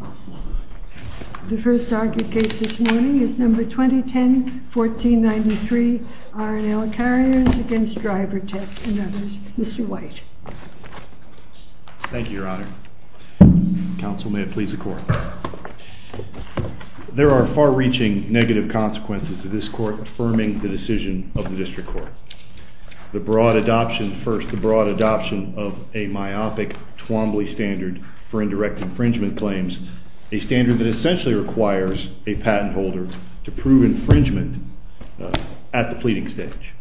MR. WHITE. Thank you, Your Honor. Counsel, may it please the Court. There are far-reaching negative consequences to this Court affirming the decision of the District Court. The broad adoption first, the broad adoption of a The broad adoption of a myopic, twombly standard that essentially requires a patent holder to prove infringement at the pleading stage.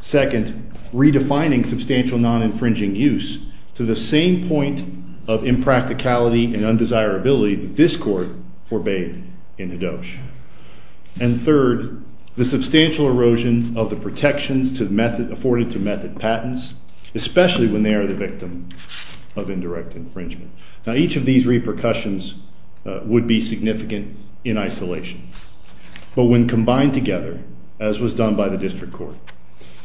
Second, redefining substantial non-infringing use to the same point of impracticality and undesirability that this Court forbade in Hedosh. And third, the substantial erosion of the protections afforded to method patents, especially when they are the victim of indirect infringement. Now, each of these repercussions are significant in isolation, but when combined together, as was done by the District Court,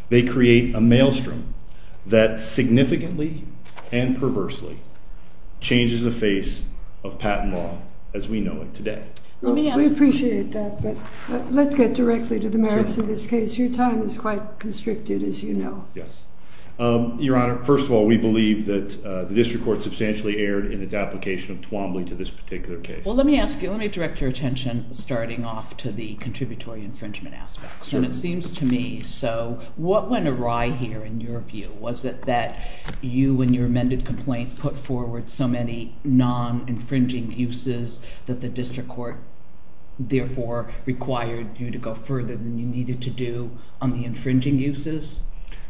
they create a maelstrom that significantly and perversely changes the face of patent law as we know it today. We appreciate that, but let's get directly to the merits of this case. Your time is quite constricted, as you know. Yes. Your Honor, first of all, we believe that the Well, let me ask you, let me direct your attention starting off to the contributory infringement aspects, and it seems to me, so what went awry here in your view? Was it that you, in your amended complaint, put forward so many non-infringing uses that the District Court therefore required you to go further than you needed to do on the infringing uses?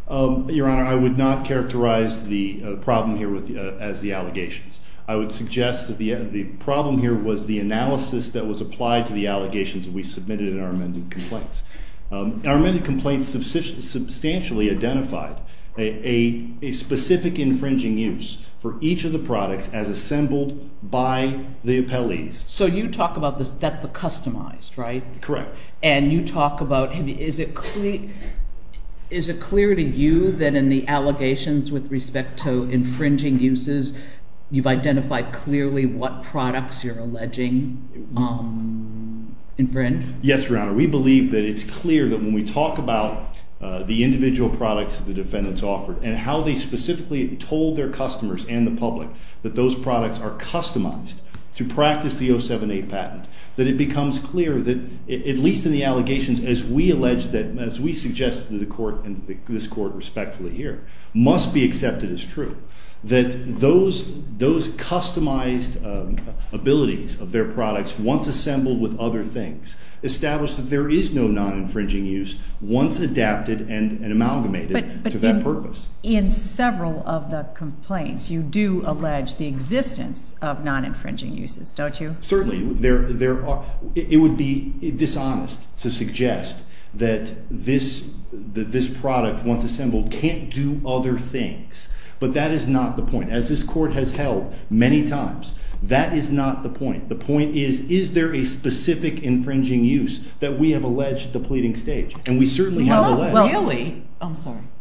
Your Honor, I would not characterize the problem here as the allegations. I would suggest that the problem here was the analysis that was applied to the allegations that we submitted in our amended complaints. Our amended complaints substantially identified a specific infringing use for each of the products as assembled by the appellees. So you talk about this, that's the customized, right? Correct. And you talk about, is it clear to you that in the allegations with respect to infringing uses, you've identified clearly what products you're alleging infringe? Yes, Your Honor. We believe that it's clear that when we talk about the individual products that the defendants offered and how they specifically told their customers and the public that those products are customized to their needs, based on the allegations as we allege that, as we suggest to the court and this court respectfully here, must be accepted as true, that those customized abilities of their products once assembled with other things, establish that there is no non-infringing use once adapted and amalgamated to that purpose. But in several of the complaints, you do allege the existence of non-infringing uses, don't you? Certainly. It would be dishonest to suggest that this product once assembled can't do other things. But that is not the point. As this court has held many times, that is not the point. The point is, is there a specific infringing use that we have alleged depleting stage? And we certainly have alleged.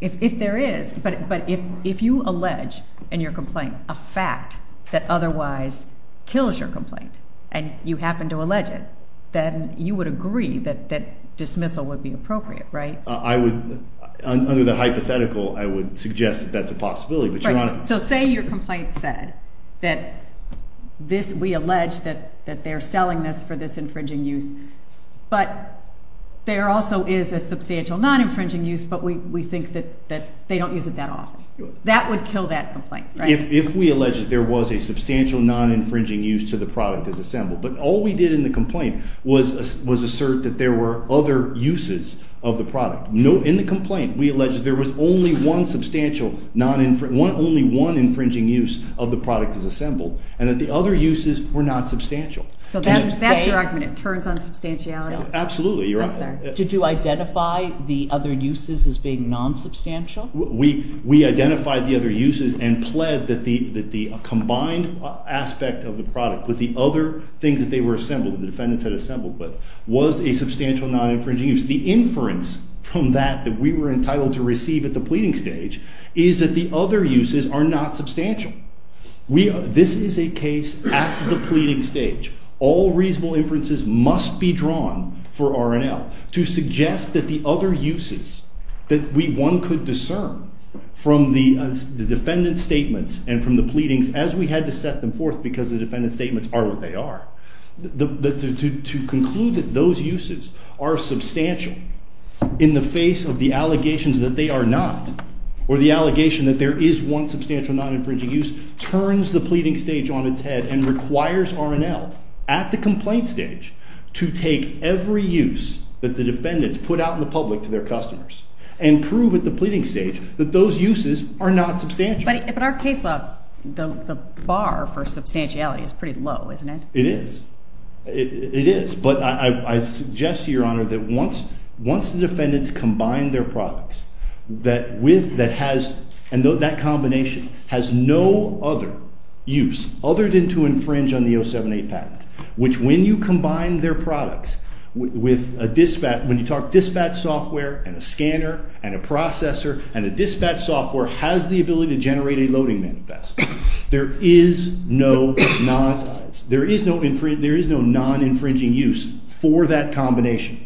If there is, but if you allege in your complaint a fact that otherwise kills your complaint and you happen to allege it, then you would agree that dismissal would be appropriate, right? Under the hypothetical, I would suggest that that's a possibility. So say your complaint said that this, we allege that they're selling this for this infringing use, but there also is a substantial non-infringing use, but we think that they don't use it that often. That would kill that complaint, right? If we allege that there was a substantial non-infringing use to the product that's assembled. But all we did in the complaint was assert that there were other uses of the product. In the complaint, we allege that there was only one substantial non-infringing, only one infringing use of the product that's assembled, and that the other uses were not substantial. So that's your argument, it turns on substantiality? Absolutely, you're right. I'm sorry. Did you identify the other uses as being non-substantial? We identified the other uses and pled that the combined aspect of the product with the other things that they were assembled, the defendants had assembled with, was a substantial non-infringing use. The inference from that that we were entitled to receive at the pleading stage is that the other uses are not substantial. This is a case at the pleading stage. All reasonable inferences must be drawn for R&L to suggest that the other uses that one could discern from the defendant's statements and from the pleadings, as we had to set them forth because the defendant's statements are what they are, to conclude that those uses are substantial in the face of the allegations that they are not, or the allegation that there is one substantial non-infringing use, turns the pleading stage on its head and requires R&L at the complaint stage to take every use that the defendants put out in the public to their complaint stage, that those uses are not substantial. But in our case law, the bar for substantiality is pretty low, isn't it? It is. It is. But I suggest to Your Honor that once the defendants combine their products that with, that has, and that combination has no other use other than to infringe on the 07-8 patent, which when you combine their products with a dispatch, when you talk dispatch software and a processor and a dispatch software has the ability to generate a loading manifest. There is no non-infringing use for that combination.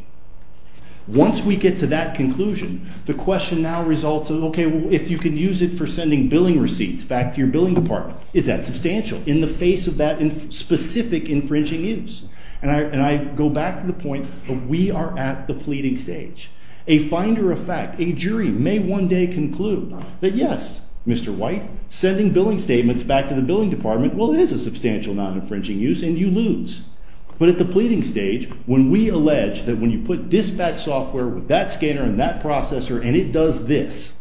Once we get to that conclusion, the question now results in, okay, well, if you can use it for sending billing receipts back to your billing department, is that substantial in the face of that specific infringing use? And I go back to the point of we are at the pleading stage. A finder of fact, a jury may one day conclude that, yes, Mr. White, sending billing statements back to the billing department, well, it is a substantial non-infringing use and you lose. But at the pleading stage, when we allege that when you put dispatch software with that scanner and that processor and it does this,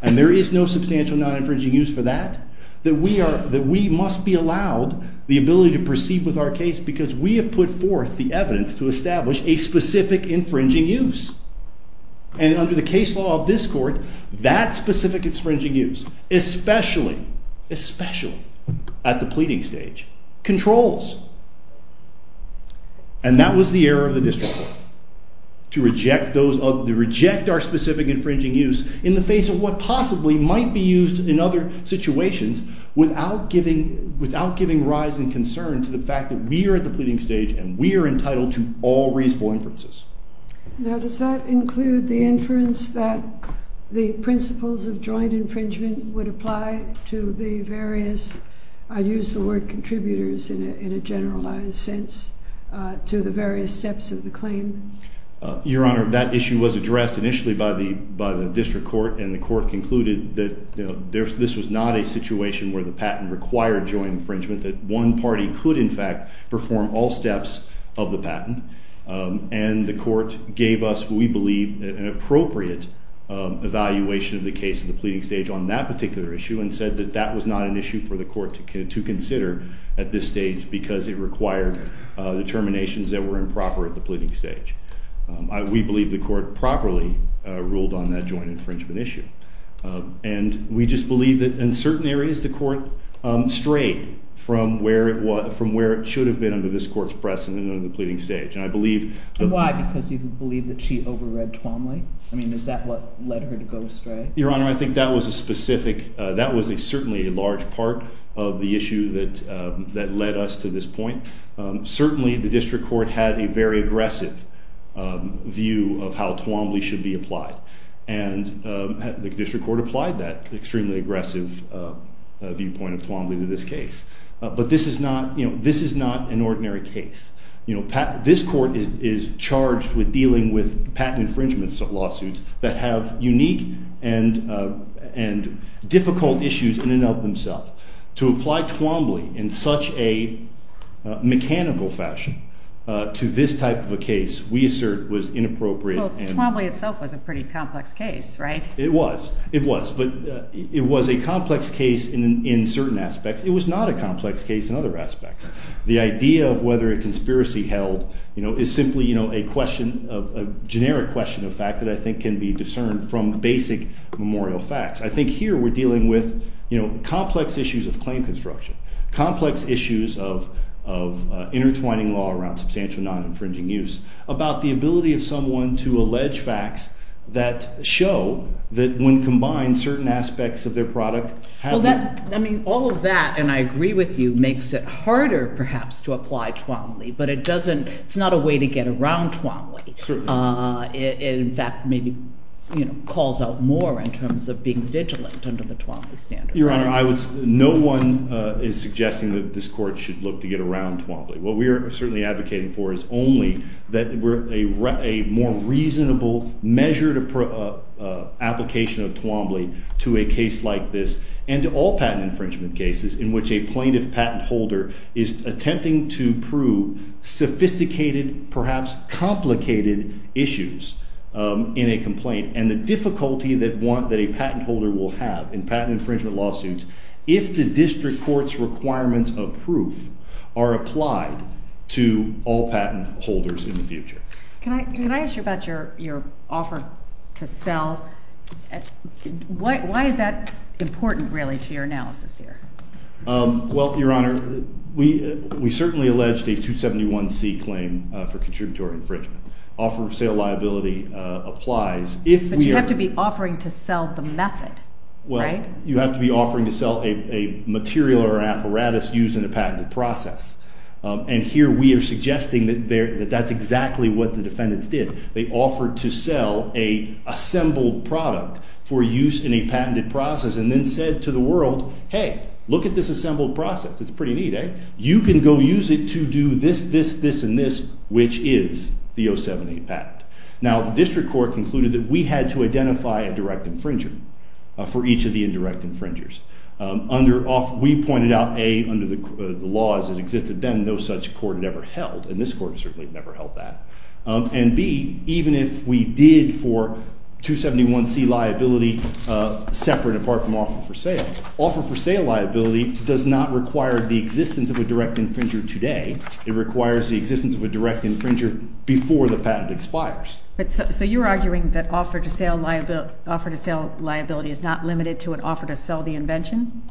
and there is no substantial non-infringing use for that, that we must be allowed the ability to proceed with our case because we have put forth the evidence to establish a specific infringing use. And under the case law of this court, that specific infringing use, especially, especially at the pleading stage, controls. And that was the error of the district court, to reject our specific infringing use in the face of what possibly might be used in other situations without giving rise and concern to the fact that we are at the pleading stage and we are entitled to all reasonable inferences. Now, does that include the inference that the principles of joint infringement would apply to the various, I'd use the word contributors in a generalized sense, to the various steps of the claim? Your Honor, that issue was addressed initially by the district court and the court concluded that this was not a situation where the patent required joint infringement, that one party could in fact perform all steps of the patent and the court gave us, we believe, an appropriate evaluation of the case of the pleading stage on that particular issue and said that that was not an issue for the court to consider at this stage because it required determinations that were improper at the pleading stage. We believe the court properly ruled on that joint infringement issue. And we just believe that in certain areas the court strayed from where it was, from where it should have been under this pleading stage. And I believe... And why? Because you believe that she over-read Twombly? I mean, is that what led her to go astray? Your Honor, I think that was a specific, that was a certainly a large part of the issue that that led us to this point. Certainly the district court had a very aggressive view of how Twombly should be applied and the district court applied that extremely aggressive viewpoint of Twombly to this case. But this is not, you know, this is not an ordinary case. You know, this court is charged with dealing with patent infringements of lawsuits that have unique and difficult issues in and of themselves. To apply Twombly in such a mechanical fashion to this type of a case, we assert, was inappropriate. Well, Twombly itself was a pretty complex case, right? It was. It was. But it was a complex case in certain aspects. It was not a complex case in other aspects. The idea of whether a conspiracy held, you know, is simply, you know, a question of, a generic question of fact that I think can be discerned from basic memorial facts. I think here we're dealing with, you know, complex issues of claim construction, complex issues of intertwining law around substantial non-infringing use, about the ability of someone to allege facts that show that when combined, certain aspects of their product happen. Well, that, I mean, all of that, and I agree with you, makes it harder perhaps to apply Twombly, but it doesn't, it's not a way to get around Twombly. Certainly. It, in fact, maybe, you know, calls out more in terms of being vigilant under the Twombly standard. Your Honor, I was, no one is suggesting that this court should look to get around Twombly. What we are certainly advocating for is only that we're a more reasonable measure to application of Twombly to a case like this and to all patent infringement cases in which a plaintiff patent holder is attempting to prove sophisticated, perhaps complicated, issues in a complaint and the difficulty that one, that a patent holder will have in patent infringement lawsuits if the district court's requirements of proof are applied to all patent holders in the future. Can I ask you about your offer to sell? Why is that important, really, to your analysis here? Well, Your Honor, we certainly alleged a 271C claim for contributory infringement. Offer of sale liability applies. But you have to be offering to sell the method, right? Well, you have to be offering to sell a material or an apparatus used in a patented process, and here we are suggesting that that's exactly what the defendants did. They offered to sell a assembled product for use in a patented process and then said to the defendant, look at this assembled process. It's pretty neat, eh? You can go use it to do this, this, this, and this, which is the 078 patent. Now, the district court concluded that we had to identify a direct infringer for each of the indirect infringers. We pointed out, A, under the laws that existed then, no such court had ever held, and this court certainly never held that, and B, even if we did for 271C liability separate, apart from offer for sale. Offer for sale liability does not require the existence of a direct infringer today. It requires the existence of a direct infringer before the patent expires. But so you're arguing that offer to sell liability is not limited to an offer to sell the invention?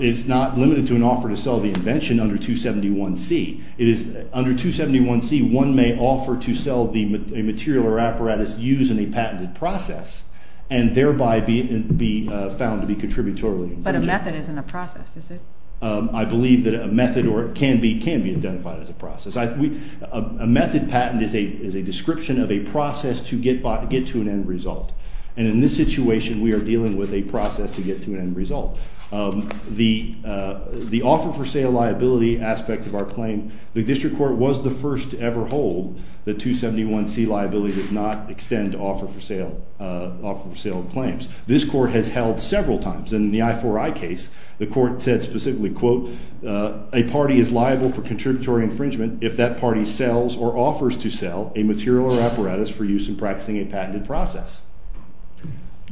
It's not limited to an offer to sell the invention under 271C. It is, under 271C, one may offer to sell the material or apparatus used in a patented process and thereby be found to be contributory. But a method isn't a process, is it? I believe that a method or it can be can be identified as a process. A method patent is a description of a process to get to an end result, and in this situation we are dealing with a process to get to an end result. The offer for sale liability aspect of our claim, the district court was the first to ever hold that 271C liability does not extend offer for sale claims. This court has held several times. In the I4I case, the court said specifically, quote, a party is liable for contributory infringement if that party sells or offers to sell a material or apparatus for use in practicing a patented process.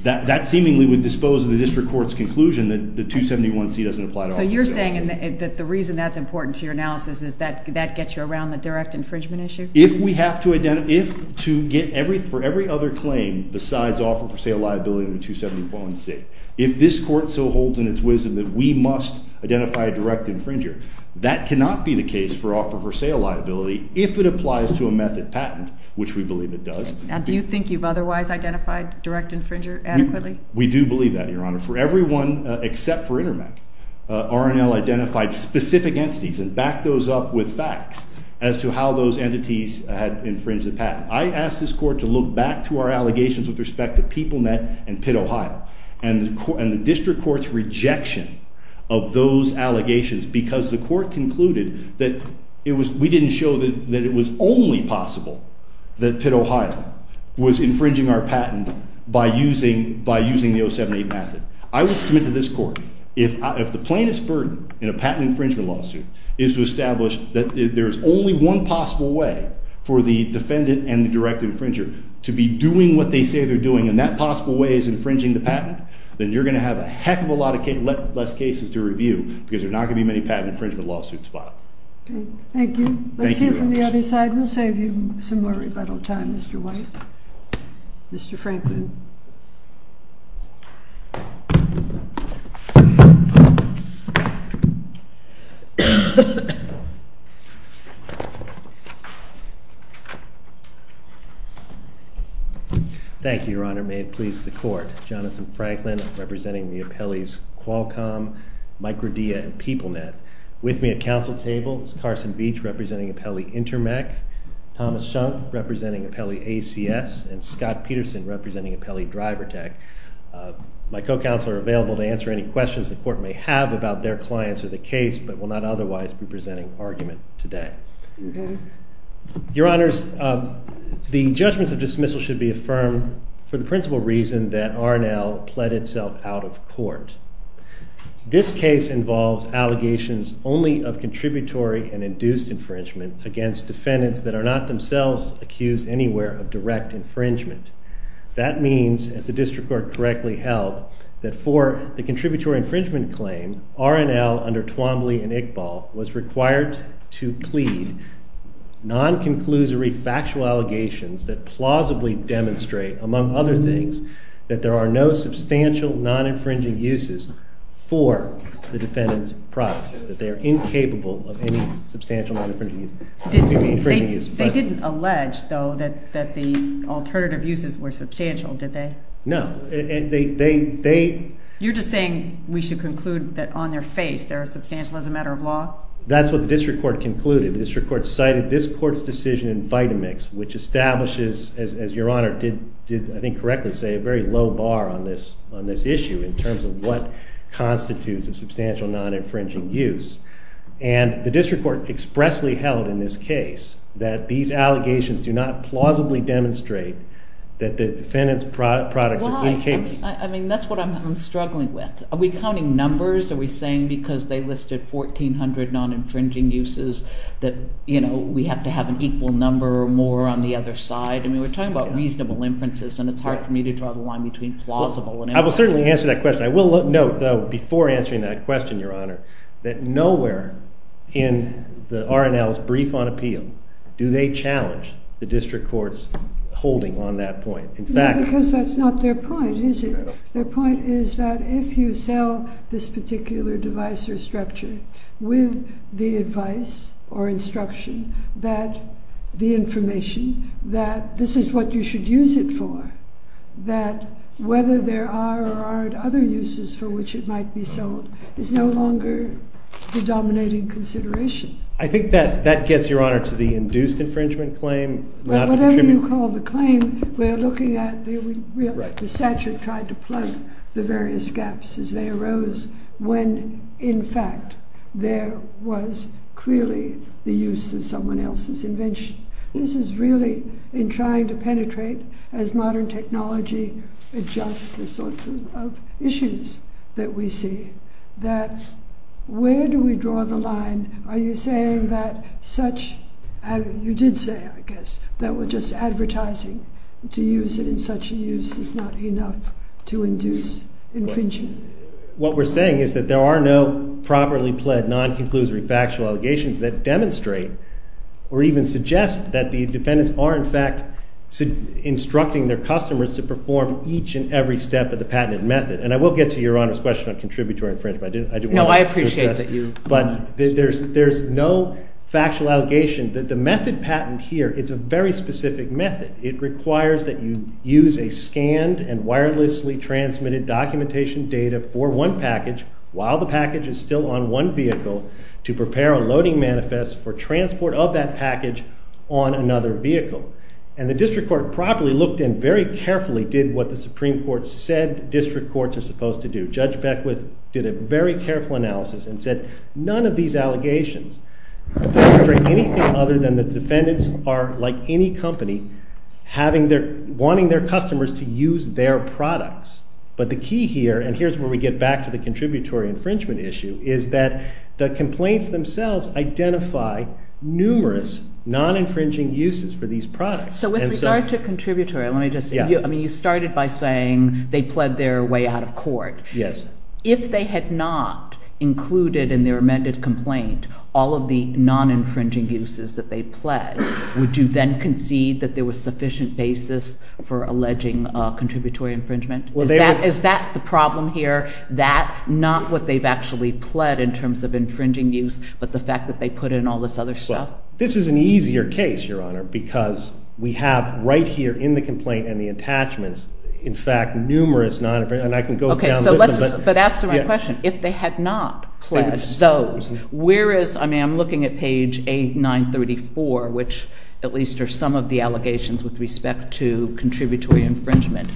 That seemingly would dispose of the district court's conclusion that the 271C doesn't apply to offer for sale. So you're saying that the reason that's important to your analysis is that that gets you around the direct infringement issue? If we have to identify, if to get every, for every other claim besides offer for sale liability in the 271C, if this court so holds in its wisdom that we must identify a direct infringer, that cannot be the case for offer for sale liability if it applies to a method patent, which we believe it does. And do you think you've otherwise identified direct infringer adequately? We do believe that, Your Honor. For everyone except for Intermec, R&L identified specific entities and backed those up with facts as to how those entities had infringed the patent. I asked this court to look back to our case with PeopleNet and Pitt, Ohio, and the district court's rejection of those allegations because the court concluded that it was, we didn't show that it was only possible that Pitt, Ohio, was infringing our patent by using, by using the 078 method. I would submit to this court, if the plainest burden in a patent infringement lawsuit is to establish that there's only one possible way for the defendant and the direct infringer to be doing what they say they're doing and that possible way is infringing the patent, then you're going to have a heck of a lot of less cases to review because there's not going to be many patent infringement lawsuits filed. Thank you. Let's hear from the other side. We'll save you some more rebuttal time, Mr. White. Mr. Franklin. Thank you, Your Honor. May it please the court. Jonathan Franklin representing the appellees Qualcomm, Microdia, and PeopleNet. With me at council table is Carson Veach representing appellee Intermec, Thomas Shunk representing appellee ACS, and Scott Peterson representing appellee DriverTech. My co-counsel are available to answer any questions the court may have about their clients or the case, but will not otherwise be presenting argument today. Your Honors, the judgments of dismissal should be affirmed for the principal reason that R&L pled itself out of court. This case involves allegations only of contributory and induced infringement against defendants that are not themselves accused anywhere of direct infringement. That means, as the district court correctly held, that for the contributory infringement claim, R&L under Twombly and Iqbal was required to plead non-conclusory factual allegations that plausibly demonstrate, among other things, that there are no substantial non-infringing uses for the defendant's profits, that they are incapable of any substantial non-infringing use. They didn't allege, though, that the alternative uses were substantial, did they? No. You're just saying we should conclude that on their face they're substantial as a matter of law? That's what the district court concluded. The district court cited this court's decision in Vitamix, which establishes, as your Honor did I think correctly say, a very low bar on this issue in terms of what constitutes a substantial non-infringing use, and the district court expressly held in this case that these allegations do not plausibly demonstrate that the defendant's products are clean case. I mean, that's what I'm struggling with. Are we counting numbers? Are we saying because they listed 1,400 non-infringing uses that, you know, we have to have an equal number or more on the other side? I mean, we're talking about reasonable inferences and it's hard for me to draw the line between plausible and infringing. I will certainly answer that question. I will note, though, before answering that question, your Honor, that nowhere in the district court's holding on that point. Because that's not their point, is it? Their point is that if you sell this particular device or structure with the advice or instruction that the information that this is what you should use it for, that whether there are or aren't other uses for which it might be sold is no longer the dominating consideration. I think that that gets your Honor to the induced infringement claim. Whatever you call the claim, we're looking at the statute trying to plug the various gaps as they arose when in fact there was clearly the use of someone else's invention. This is really in trying to penetrate as modern technology adjusts the sorts of issues that we see. That's where do we draw the You did say, I guess, that we're just advertising to use it in such use is not enough to induce infringement. What we're saying is that there are no properly pled non-conclusory factual allegations that demonstrate or even suggest that the defendants are in fact instructing their customers to perform each and every step of the patented method. And I will get to your Honor's question on contributory infringement. No, I appreciate that you... But there's no factual allegation that the method patent here, it's a very specific method. It requires that you use a scanned and wirelessly transmitted documentation data for one package while the package is still on one vehicle to prepare a loading manifest for transport of that package on another vehicle. And the District Court properly looked in very carefully did what the Supreme Court said district courts are supposed to do. Judge Beckwith did a very careful analysis and said none of these anything other than the defendants are like any company having their, wanting their customers to use their products. But the key here, and here's where we get back to the contributory infringement issue, is that the complaints themselves identify numerous non-infringing uses for these products. So with regard to contributory, let me just, I mean you started by saying they pled their way out of court. Yes. If they had not included in their amended complaint all of the non-infringing uses that they pled, would you then concede that there was sufficient basis for alleging contributory infringement? Is that, is that the problem here? That, not what they've actually pled in terms of infringing use, but the fact that they put in all this other stuff? This is an easier case, Your Honor, because we have right here in the complaint and the attachments, in fact, numerous non-infringing, and I can go down. Okay, so let's, but answer my question. If they had not pled those uses, where is, I mean I'm looking at page 8, 934, which at least are some of the allegations with respect to contributory infringement,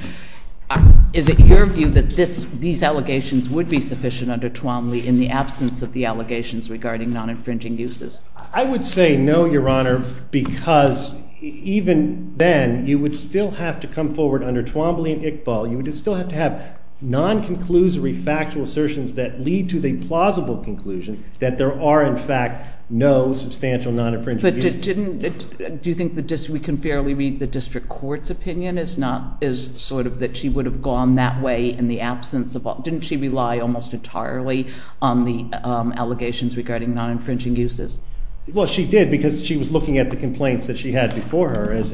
is it your view that this, these allegations would be sufficient under Twombly in the absence of the allegations regarding non-infringing uses? I would say no, Your Honor, because even then you would still have to come forward under Twombly and Iqbal, you would still have to have non-conclusory factual assertions that lead to the plausible conclusion that there are, in fact, no substantial non-infringing uses. But didn't, do you think the district, we can fairly read the district court's opinion, is not, is sort of that she would have gone that way in the absence of, didn't she rely almost entirely on the allegations regarding non-infringing uses? Well, she did because she was looking at the complaints that she had before her as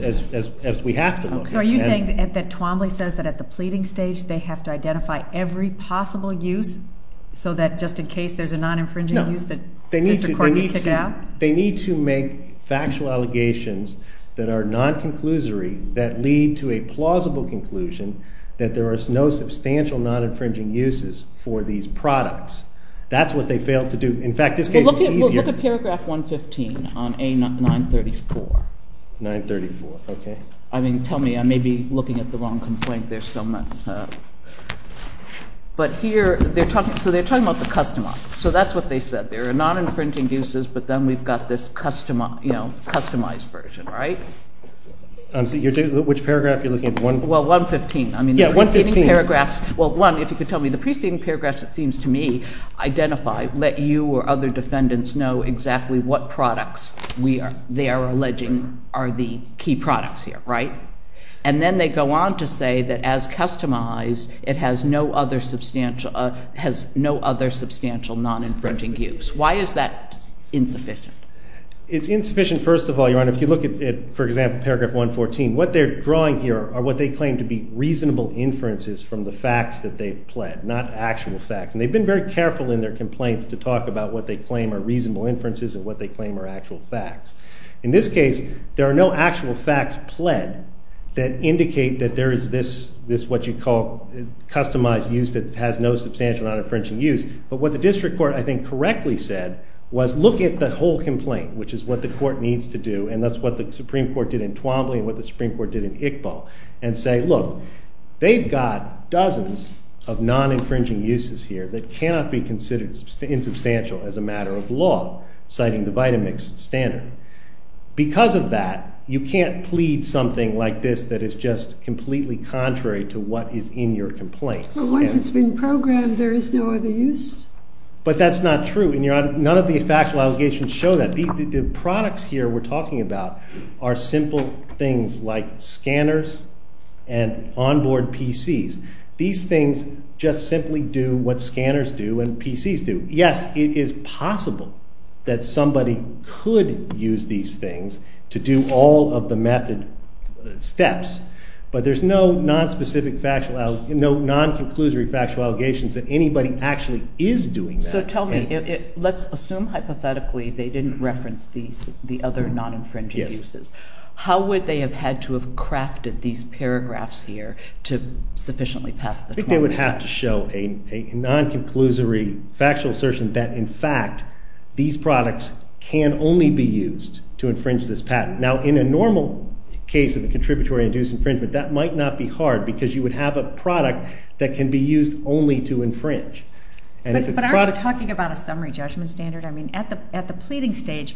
we have to look. So are you saying that Twombly says that at the pleading stage they have to identify every possible use so that just in case there's a non-infringing use, the district court can kick it out? No, they need to make factual allegations that are non-conclusory that lead to a plausible conclusion that there are no substantial non-infringing uses for these products. That's what they failed to do. In fact, this case is easier. Look at paragraph 115 on A934. 934, okay. I mean, tell me, I may be looking at the wrong complaint there so much. But here they're talking, so they're talking about the customized. So that's what they said. There are non-infringing uses, but then we've got this customized version, right? Which paragraph are you looking at? Well, 115. I mean, the preceding paragraphs, well, one, if you could tell me the preceding paragraphs, it seems to me, identify, let you or other defendants know exactly what products they are alleging are the key products here, right? And then they go on to say that as customized, it has no other substantial non-infringing use. Why is that insufficient? It's insufficient, first of all, Your Honor. If you look at, for example, paragraph 114, what they're drawing here are what they claim to be reasonable inferences from the facts that they've pled, not actual facts. And they've been very careful in their complaints to talk about what they claim are reasonable inferences and what they claim are actual facts. In this case, there are no actual facts pled that indicate that there is this, this what you call customized use that has no substantial non-infringing use. But what the district court, I think, correctly said was look at the whole complaint, which is what the court needs to do, and that's what the Supreme Court did in Twombly and what the Supreme Court did in Iqbal, and say, look, they've got dozens of non-infringing uses here that cannot be considered insubstantial as a matter of law, citing the Vitamix standard. Because of that, you can't plead something like this that is just completely contrary to what is in your complaints. Once it's been programmed, there is no other use? But that's not true, and none of the factual allegations show that. The products here we're talking about are simple things like scanners and onboard PCs. These things just simply do what scanners do and PCs do. Yes, it is possible that somebody could use these things to do all of the method steps, but there's no non-specific factual, no non-conclusory factual allegations that anybody actually is doing that. So tell me, let's assume hypothetically they didn't reference the other non-infringing uses. How would they have had to have crafted these paragraphs here to sufficiently pass the trial? I think they would have to show a non-conclusory factual assertion that, in fact, these products can only be used to infringe this patent. Now, in a normal case of a contributory-induced infringement, that might not be hard because you would have a product that can be used only to infringe. But aren't you talking about a summary judgment standard? I mean, at the pleading stage,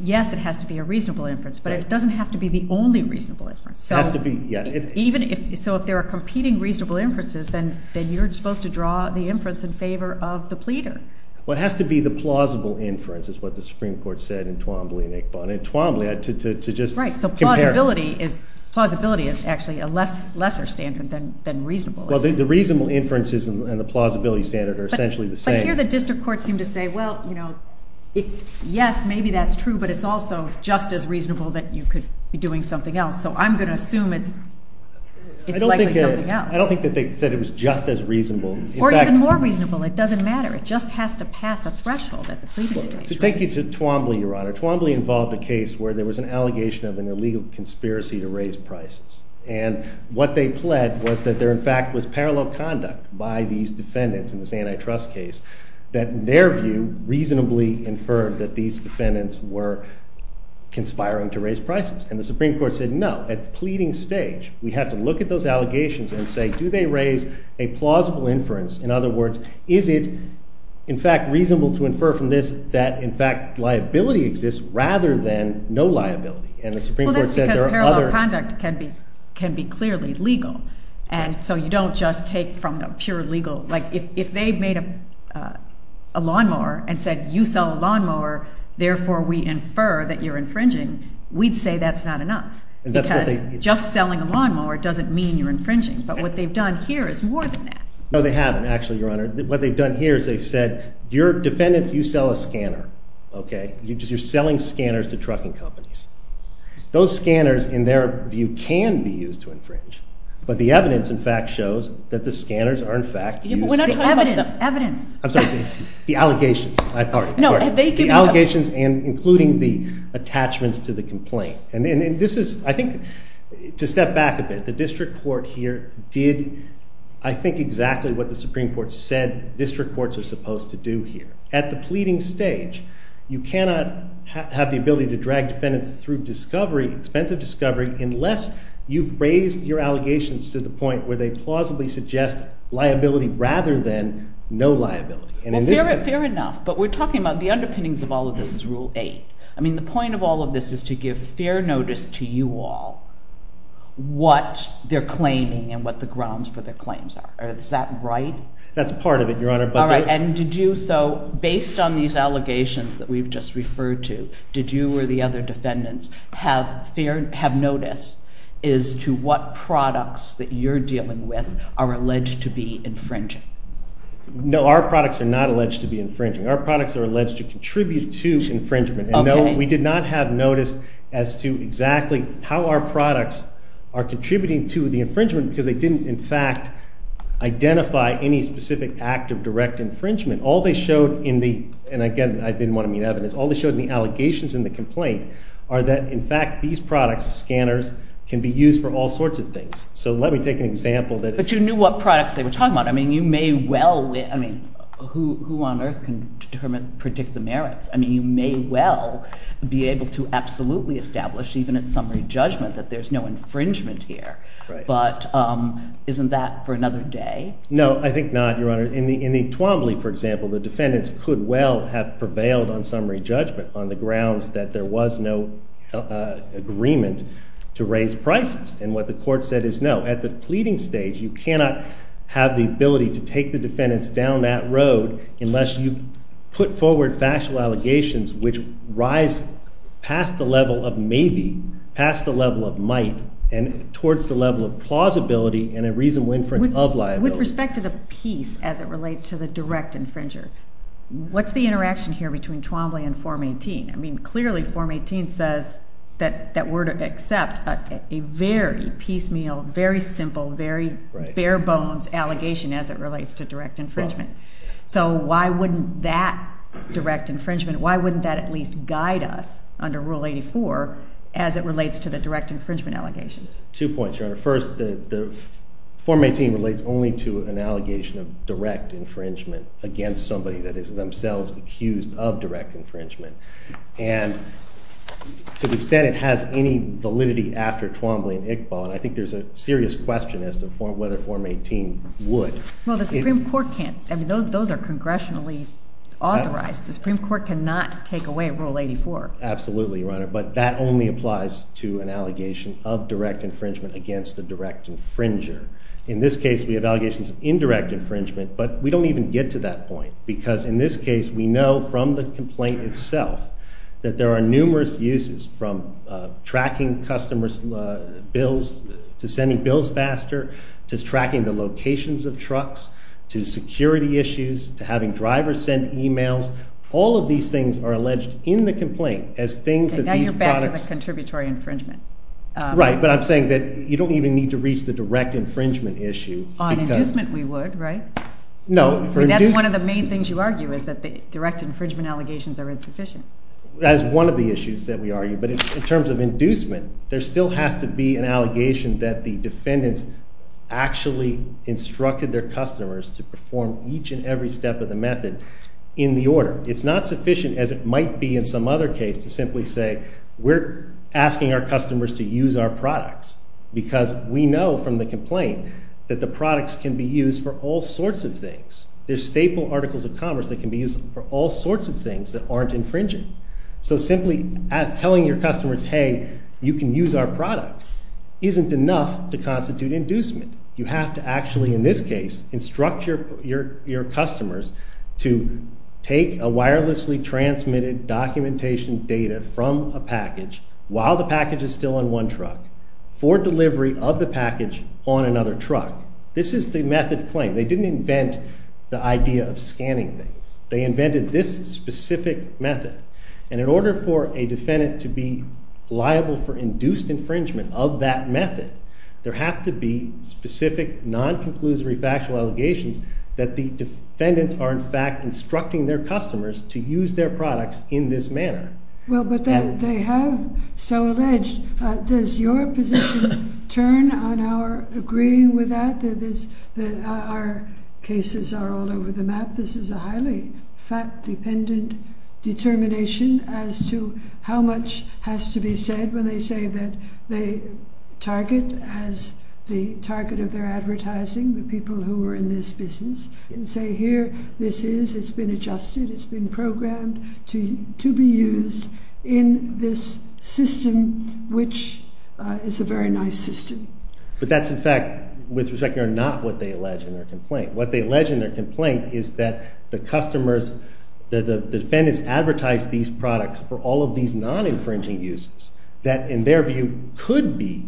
yes, it has to be a reasonable inference, but it doesn't have to be the only reasonable inference. So if there are competing reasonable inferences, then you're supposed to draw the inference in favor of the pleader. Well, it has to be the plausible inference, is what the Supreme Court said in Twombly and Akebon. In Twombly, to just compare. Right, so plausibility is actually a lesser standard than reasonable. Well, the reasonable inferences and the plausibility standard are essentially the same. But here the district courts seem to say, well, you know, yes, maybe that's true, but it's also just as reasonable that you could be doing something else. So I'm going to assume it's likely something else. I don't think that they said it was just as reasonable. Or even more reasonable. It doesn't matter. It just has to pass a threshold at the pleading stage. To take you to Twombly, Your Honor, Twombly involved a case where there was an allegation of an illegal conspiracy to raise prices. And what they pled was that there, in fact, was parallel conduct by these defendants in this antitrust case that, in their view, reasonably inferred that these defendants were conspiring to raise prices. And the Supreme Court said no. At pleading stage, we have to look at those allegations and say, do they raise a plausible inference? In other words, is it in fact reasonable to infer from this than no liability? And the Supreme Court said there are other... Well, that's because it's clearly legal. And so you don't just take from a pure legal... Like, if they made a lawnmower and said, you sell a lawnmower, therefore we infer that you're infringing, we'd say that's not enough. Because just selling a lawnmower doesn't mean you're infringing. But what they've done here is more than that. No, they haven't, actually, Your Honor. What they've done here is they've said, you're defendants, you sell a scanner. Okay? You're selling scanners to trucking companies. Those scanners, in their view, can be used to infringe. But the evidence, in fact, shows that the scanners are, in fact, used... Evidence. Evidence. I'm sorry. The allegations. No, they can... The allegations and including the attachments to the complaint. And this is, I think, to step back a bit, the district court here did, I think, exactly what the Supreme Court said district courts are supposed to do here. At the pleading stage, you cannot have the ability to drag defendants through discovery, expensive discovery, unless you've raised your allegations to the point where they plausibly suggest liability rather than no liability. Well, fair enough. But we're talking about the underpinnings of all of this is Rule 8. I mean, the point of all of this is to give fair notice to you all what they're claiming and what the grounds for their claims are. Is that right? That's part of it, Your Honor. All right. And did you, so, based on these allegations that we've just referred to, did you or the other defendants have notice as to what products that you're dealing with are alleged to be infringing? No, our products are not alleged to be infringing. Our products are alleged to contribute to infringement. And no, we did not have notice as to exactly how our products are contributing to the infringement because they didn't, in fact, identify any specific act of direct infringement. All they showed in the, and again, I didn't want to mean evidence, all they showed in the evidence are that, in fact, these products, scanners, can be used for all sorts of things. So let me take an example that... But you knew what products they were talking about. I mean, you may well, I mean, who on earth can determine, predict the merits? I mean, you may well be able to absolutely establish, even at summary judgment, that there's no infringement here. Right. But isn't that for another day? No, I think not, Your Honor. In the Twombly, for example, the defendants could well have prevailed on summary judgment on the grounds that there was no agreement to raise prices. And what the court said is no. At the pleading stage, you cannot have the ability to take the defendants down that road unless you put forward factual allegations which rise past the level of maybe, past the level of might, and towards the level of plausibility and a reasonable inference of liability. With respect to the piece as it relates to the direct infringer, what's the interaction here between Twombly and Form 18? I mean, clearly Form 18 says that we're to accept a very piecemeal, very simple, very bare-bones allegation as it relates to direct infringement. So why wouldn't that direct infringement, why wouldn't that at least guide us under Rule 84 as it relates to the direct infringement allegations? Two points, Your Honor. First, Form 18 relates only to an allegation of direct infringement against somebody that is themselves accused of direct infringement. To the extent it has any validity after Twombly and Iqbal, and I think there's a serious question as to whether Form 18 would. Well, the Supreme Court can't. I mean, those are congressionally authorized. The Supreme Court cannot take away Rule 84. Absolutely, Your Honor, but that only applies to an allegation of direct infringement against the direct infringer. In this case, we have allegations of indirect infringement, but we don't even get to that point because, in this case, we know from the complaint itself that there are numerous uses from tracking customers' bills to sending bills faster, to tracking the locations of trucks, to security issues, to having drivers send emails. All of these things are alleged in the complaint as things that these products... And now you're back to the contributory infringement. Right, but I'm saying that you don't even need to reach the direct infringement issue. On inducement, we would, right? No. I mean, that's one of the main things you argue is that the direct infringement allegations are insufficient. That is one of the issues that we argue, but in terms of inducement, there still has to be an allegation that the defendants actually instructed their customers to perform each and every step of the method in the order. It's not sufficient, as it might be in some other case, to simply say, we're asking our customers to use our products because we know from the complaint that the products can be used for all sorts of things. There's staple articles of commerce that can be used for all sorts of things that aren't infringing. So simply telling your customers, hey, you can use our product isn't enough to constitute inducement. You have to actually, in this case, instruct your customers to take a wirelessly transmitted documentation data from a package while the package is still on one truck for delivery of the package on another truck. This is the method claim. They didn't invent the idea of scanning things. They invented this specific method. And in order for a defendant to be liable for induced infringement of that method, there have to be specific non-conclusory factual allegations that the defendants are in fact instructing their customers to use their products in this manner. Well, but they have so alleged. Does your position turn on our agreeing with that, that our cases are all over the world? Well, it's a highly fact-dependent determination as to how much has to be said when they say that they target as the target of their advertising the people who are in this business and say here this is, it's been adjusted, it's been programmed to be used in this system which is a very nice system. But that's in fact, with respect, not what they allege in their complaint. What they allege in their complaint is that the customers, the defendants advertise these products for all of these non-infringing uses that in their view could be,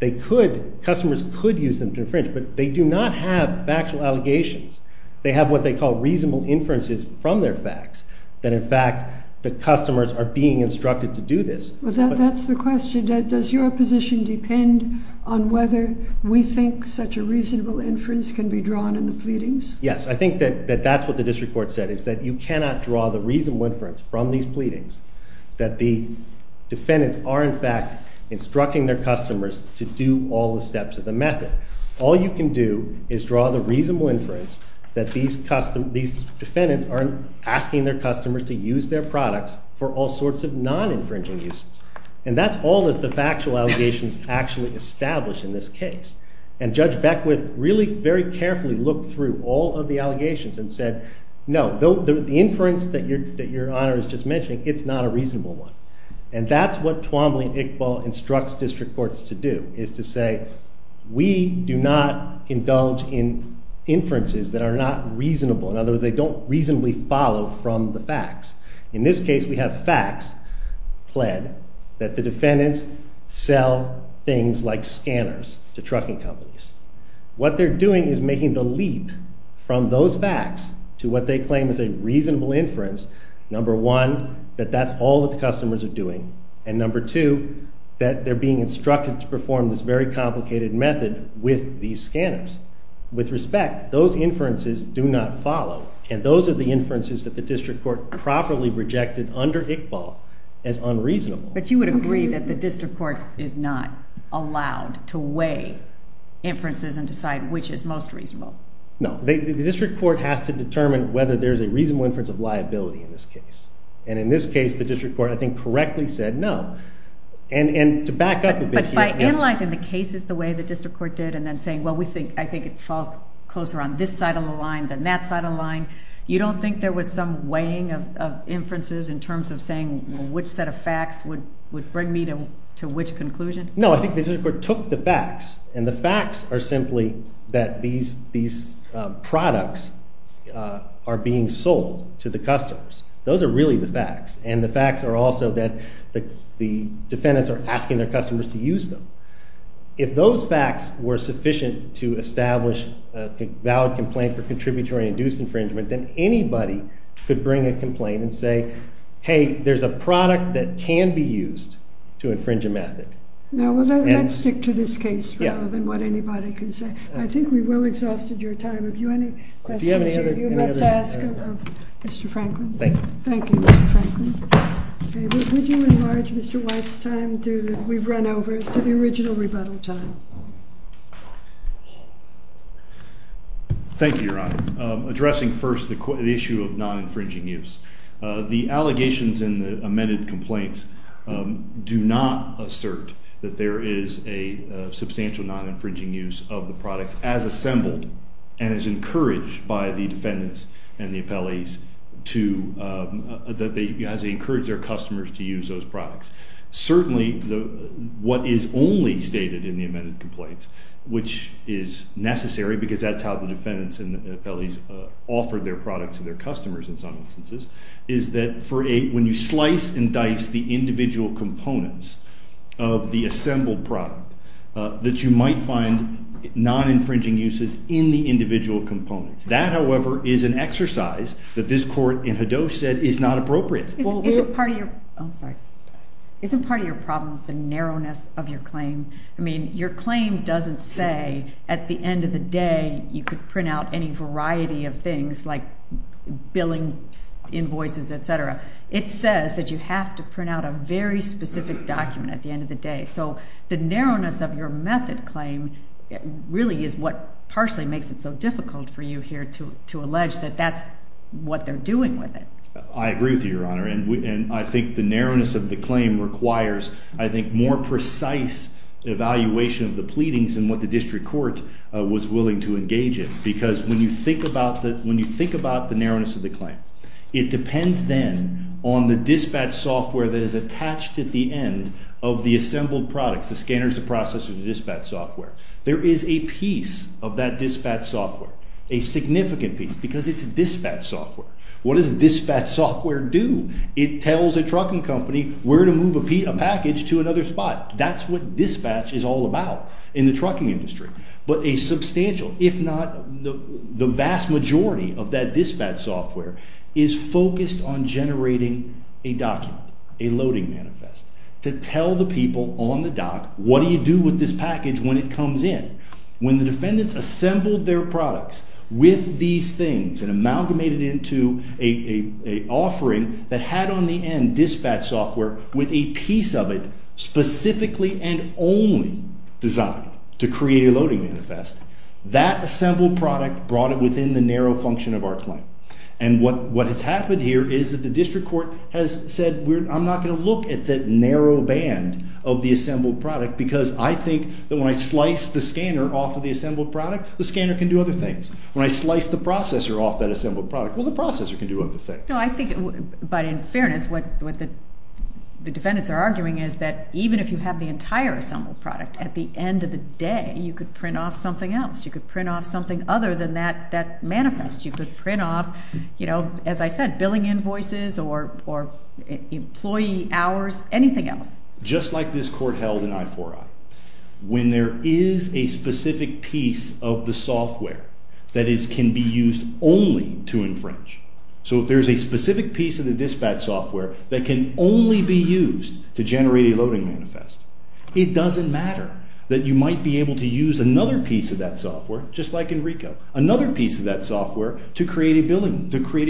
they could, customers could use them to infringe. But they do not have factual allegations. They have what they call reasonable inferences from their facts that in fact the customers are being instructed to do this. Well, that's the question. Does your position depend on whether we think such a reasonable inference can be drawn in the pleadings? Yes, I think that that's what the district court said is that you cannot draw the reasonable inference from these pleadings, that the defendants are in fact instructing their customers to do all the steps of the method. All you can do is draw the reasonable inference that these defendants aren't asking their customers to use their products for all sorts of non-infringing uses. And that's all that the factual allegations actually establish in this case. And Judge Beckwith really very carefully looked through all of the allegations and said, no, the inference that your Honor is just mentioning, it's not a reasonable one. And that's what Twombly and Iqbal instructs district courts to do, is to say, we do not indulge in inferences that are not reasonable. In other words, they don't reasonably follow from the facts. In this case, we have facts pled that the defendants sell things like scanners to trucking companies. What they're doing is making the leap from those facts to what they claim is a reasonable inference. Number one, that that's all that the customers are doing. And number two, that they're being instructed to perform this very complicated method with these scanners. With respect, those inferences do not follow. And those are the inferences that the district court properly rejected under Iqbal as unreasonable. But you would agree that the district court is not allowed to weigh inferences and decide which is most reasonable. No. The district court has to determine whether there's a reasonable inference of liability in this case. And in this case, the district court, I think, correctly said no. And to back up a bit here. But by analyzing the cases the way the district court did and then saying, well, we think, I think it falls closer on this side of the line than that side of the line, you don't think there was some weighing of inferences in terms of saying which set of facts would bring me to which conclusion? No. I think the district court took the facts. And the facts are simply that these products are being sold to the customers. Those are really the facts. And the facts are also that the defendants are asking their customers to use them. If those facts were sufficient to establish a valid complaint for contributory induced infringement, then anybody could bring a complaint and say, hey, there's a product that can be used to infringe a method. Now, let's stick to this case rather than what anybody can say. I think we've well exhausted your time. If you have any questions, you must ask Mr. Franklin. Thank you. Thank you, Mr. Franklin. Would you enlarge Mr. White's time that we've run over to the original rebuttal time? Thank you, Your Honor. Addressing first the issue of non-infringing use. The allegations in the amended complaints do not assert that there is a substantial non-infringing use of the products as assembled and as encouraged by the defendants and the appellees to that they as they encourage their customers to use those products. Certainly, what is only stated in the amended complaints, which is necessary because that's how the defendants and the appellees offer their products to their customers in some instances, is that for a when you slice and dice the individual components of the assembled product, that you might find non-infringing uses in the individual components. That, however, is an exercise that this court in Hedosh said is not appropriate. Isn't part of your problem the narrowness of your claim? I mean, your claim doesn't say at the end of the day you could print out any variety of things like billing invoices, etc. It says that you have to print out a very specific document at the end of the day. So the narrowness of your method claim really is what partially makes it so difficult for you here to to allege that that's what they're doing with it. I agree with you, Your Honor, and I think the narrowness of the claim requires, I think, more precise evaluation of the pleadings and what the district court was willing to engage in because when you think about the narrowness of the claim, it depends then on the dispatch software that is used. The dispatch software is a piece of the dispatch software. There is a piece of that dispatch software, a significant piece, because it's dispatch software. What does dispatch software do? It tells a trucking company where to move a package to another spot. That's what dispatch is all about in the trucking industry. But a substantial, if not the vast majority of that dispatch software is focused on generating a document, a document that tells the people on the dock, what do you do with this package when it comes in? When the defendants assembled their products with these things and amalgamated into a offering that had on the end dispatch software with a piece of it specifically and only designed to create a loading manifest, that assembled product brought it within the narrow function of our claim. And what has happened here is that the district court has said, I'm not going to look at that portion of the assembled product because I think that when I slice the scanner off of the assembled product, the scanner can do other things. When I slice the processor off that assembled product, well, the processor can do other things. No, I think, but in fairness, what the defendants are arguing is that even if you have the entire assembled product, at the end of the day, you could print off something else. You could print off something other than that manifest. You could print off, you know, as I said, billing invoices or employee hours, anything else. Just like this court held in I-4-I, when there is a specific piece of the software that can be used only to infringe, so if there's a specific piece of the dispatch software that can only be used to generate a loading manifest, it doesn't matter that you might be able to use another piece of that software, just like in RICO, another piece of that software to create a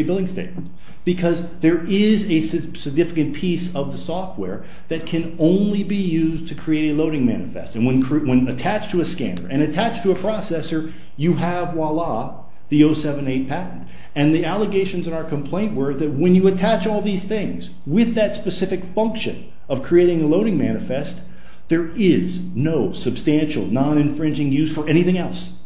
billing statement because there is a significant piece of the software that can only be used to create a loading manifest. And when attached to a scanner and attached to a processor, you have, voila, the 078 patent. And the allegations in our complaint were that when you attach all these things with that specific function of creating a loading manifest, there is no substantial, non-infringing use for anything else.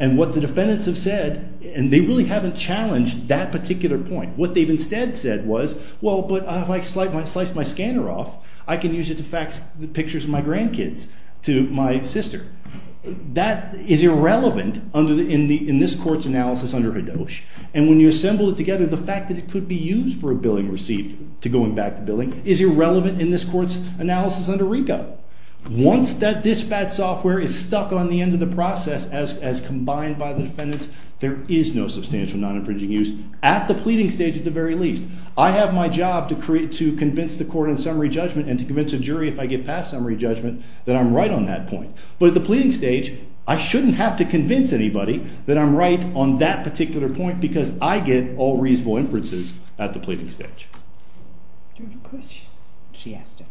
And what the defendants have said, and they really haven't challenged that particular point, what they've instead said was, well, but if I slice my bill and use it to fax the pictures of my grandkids to my sister, that is irrelevant in this court's analysis under HADOCHE. And when you assemble it together, the fact that it could be used for a billing receipt to going back to billing is irrelevant in this court's analysis under RICO. Once that dispatch software is stuck on the end of the process as combined by the defendants, there is no substantial, non-infringing use at the pleading stage at the very least. I have my job to convince the court in summary judgment and to convince a jury if I get past summary judgment that I'm right on that point. But at the pleading stage, I shouldn't have to convince anybody that I'm right on that particular point because I get all reasonable inferences at the pleading stage. Do you have a question? She asked it.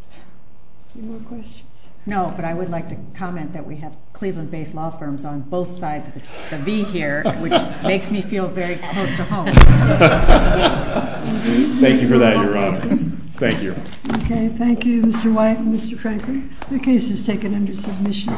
Any more questions? No, but I would like to comment that we have Cleveland-based law firms on both sides of the V here, which makes me feel very close to home. Thank you for that, Your Honor. Thank you. Okay. Thank you, Mr. White and Mr. Crankin. The case is taken under submission.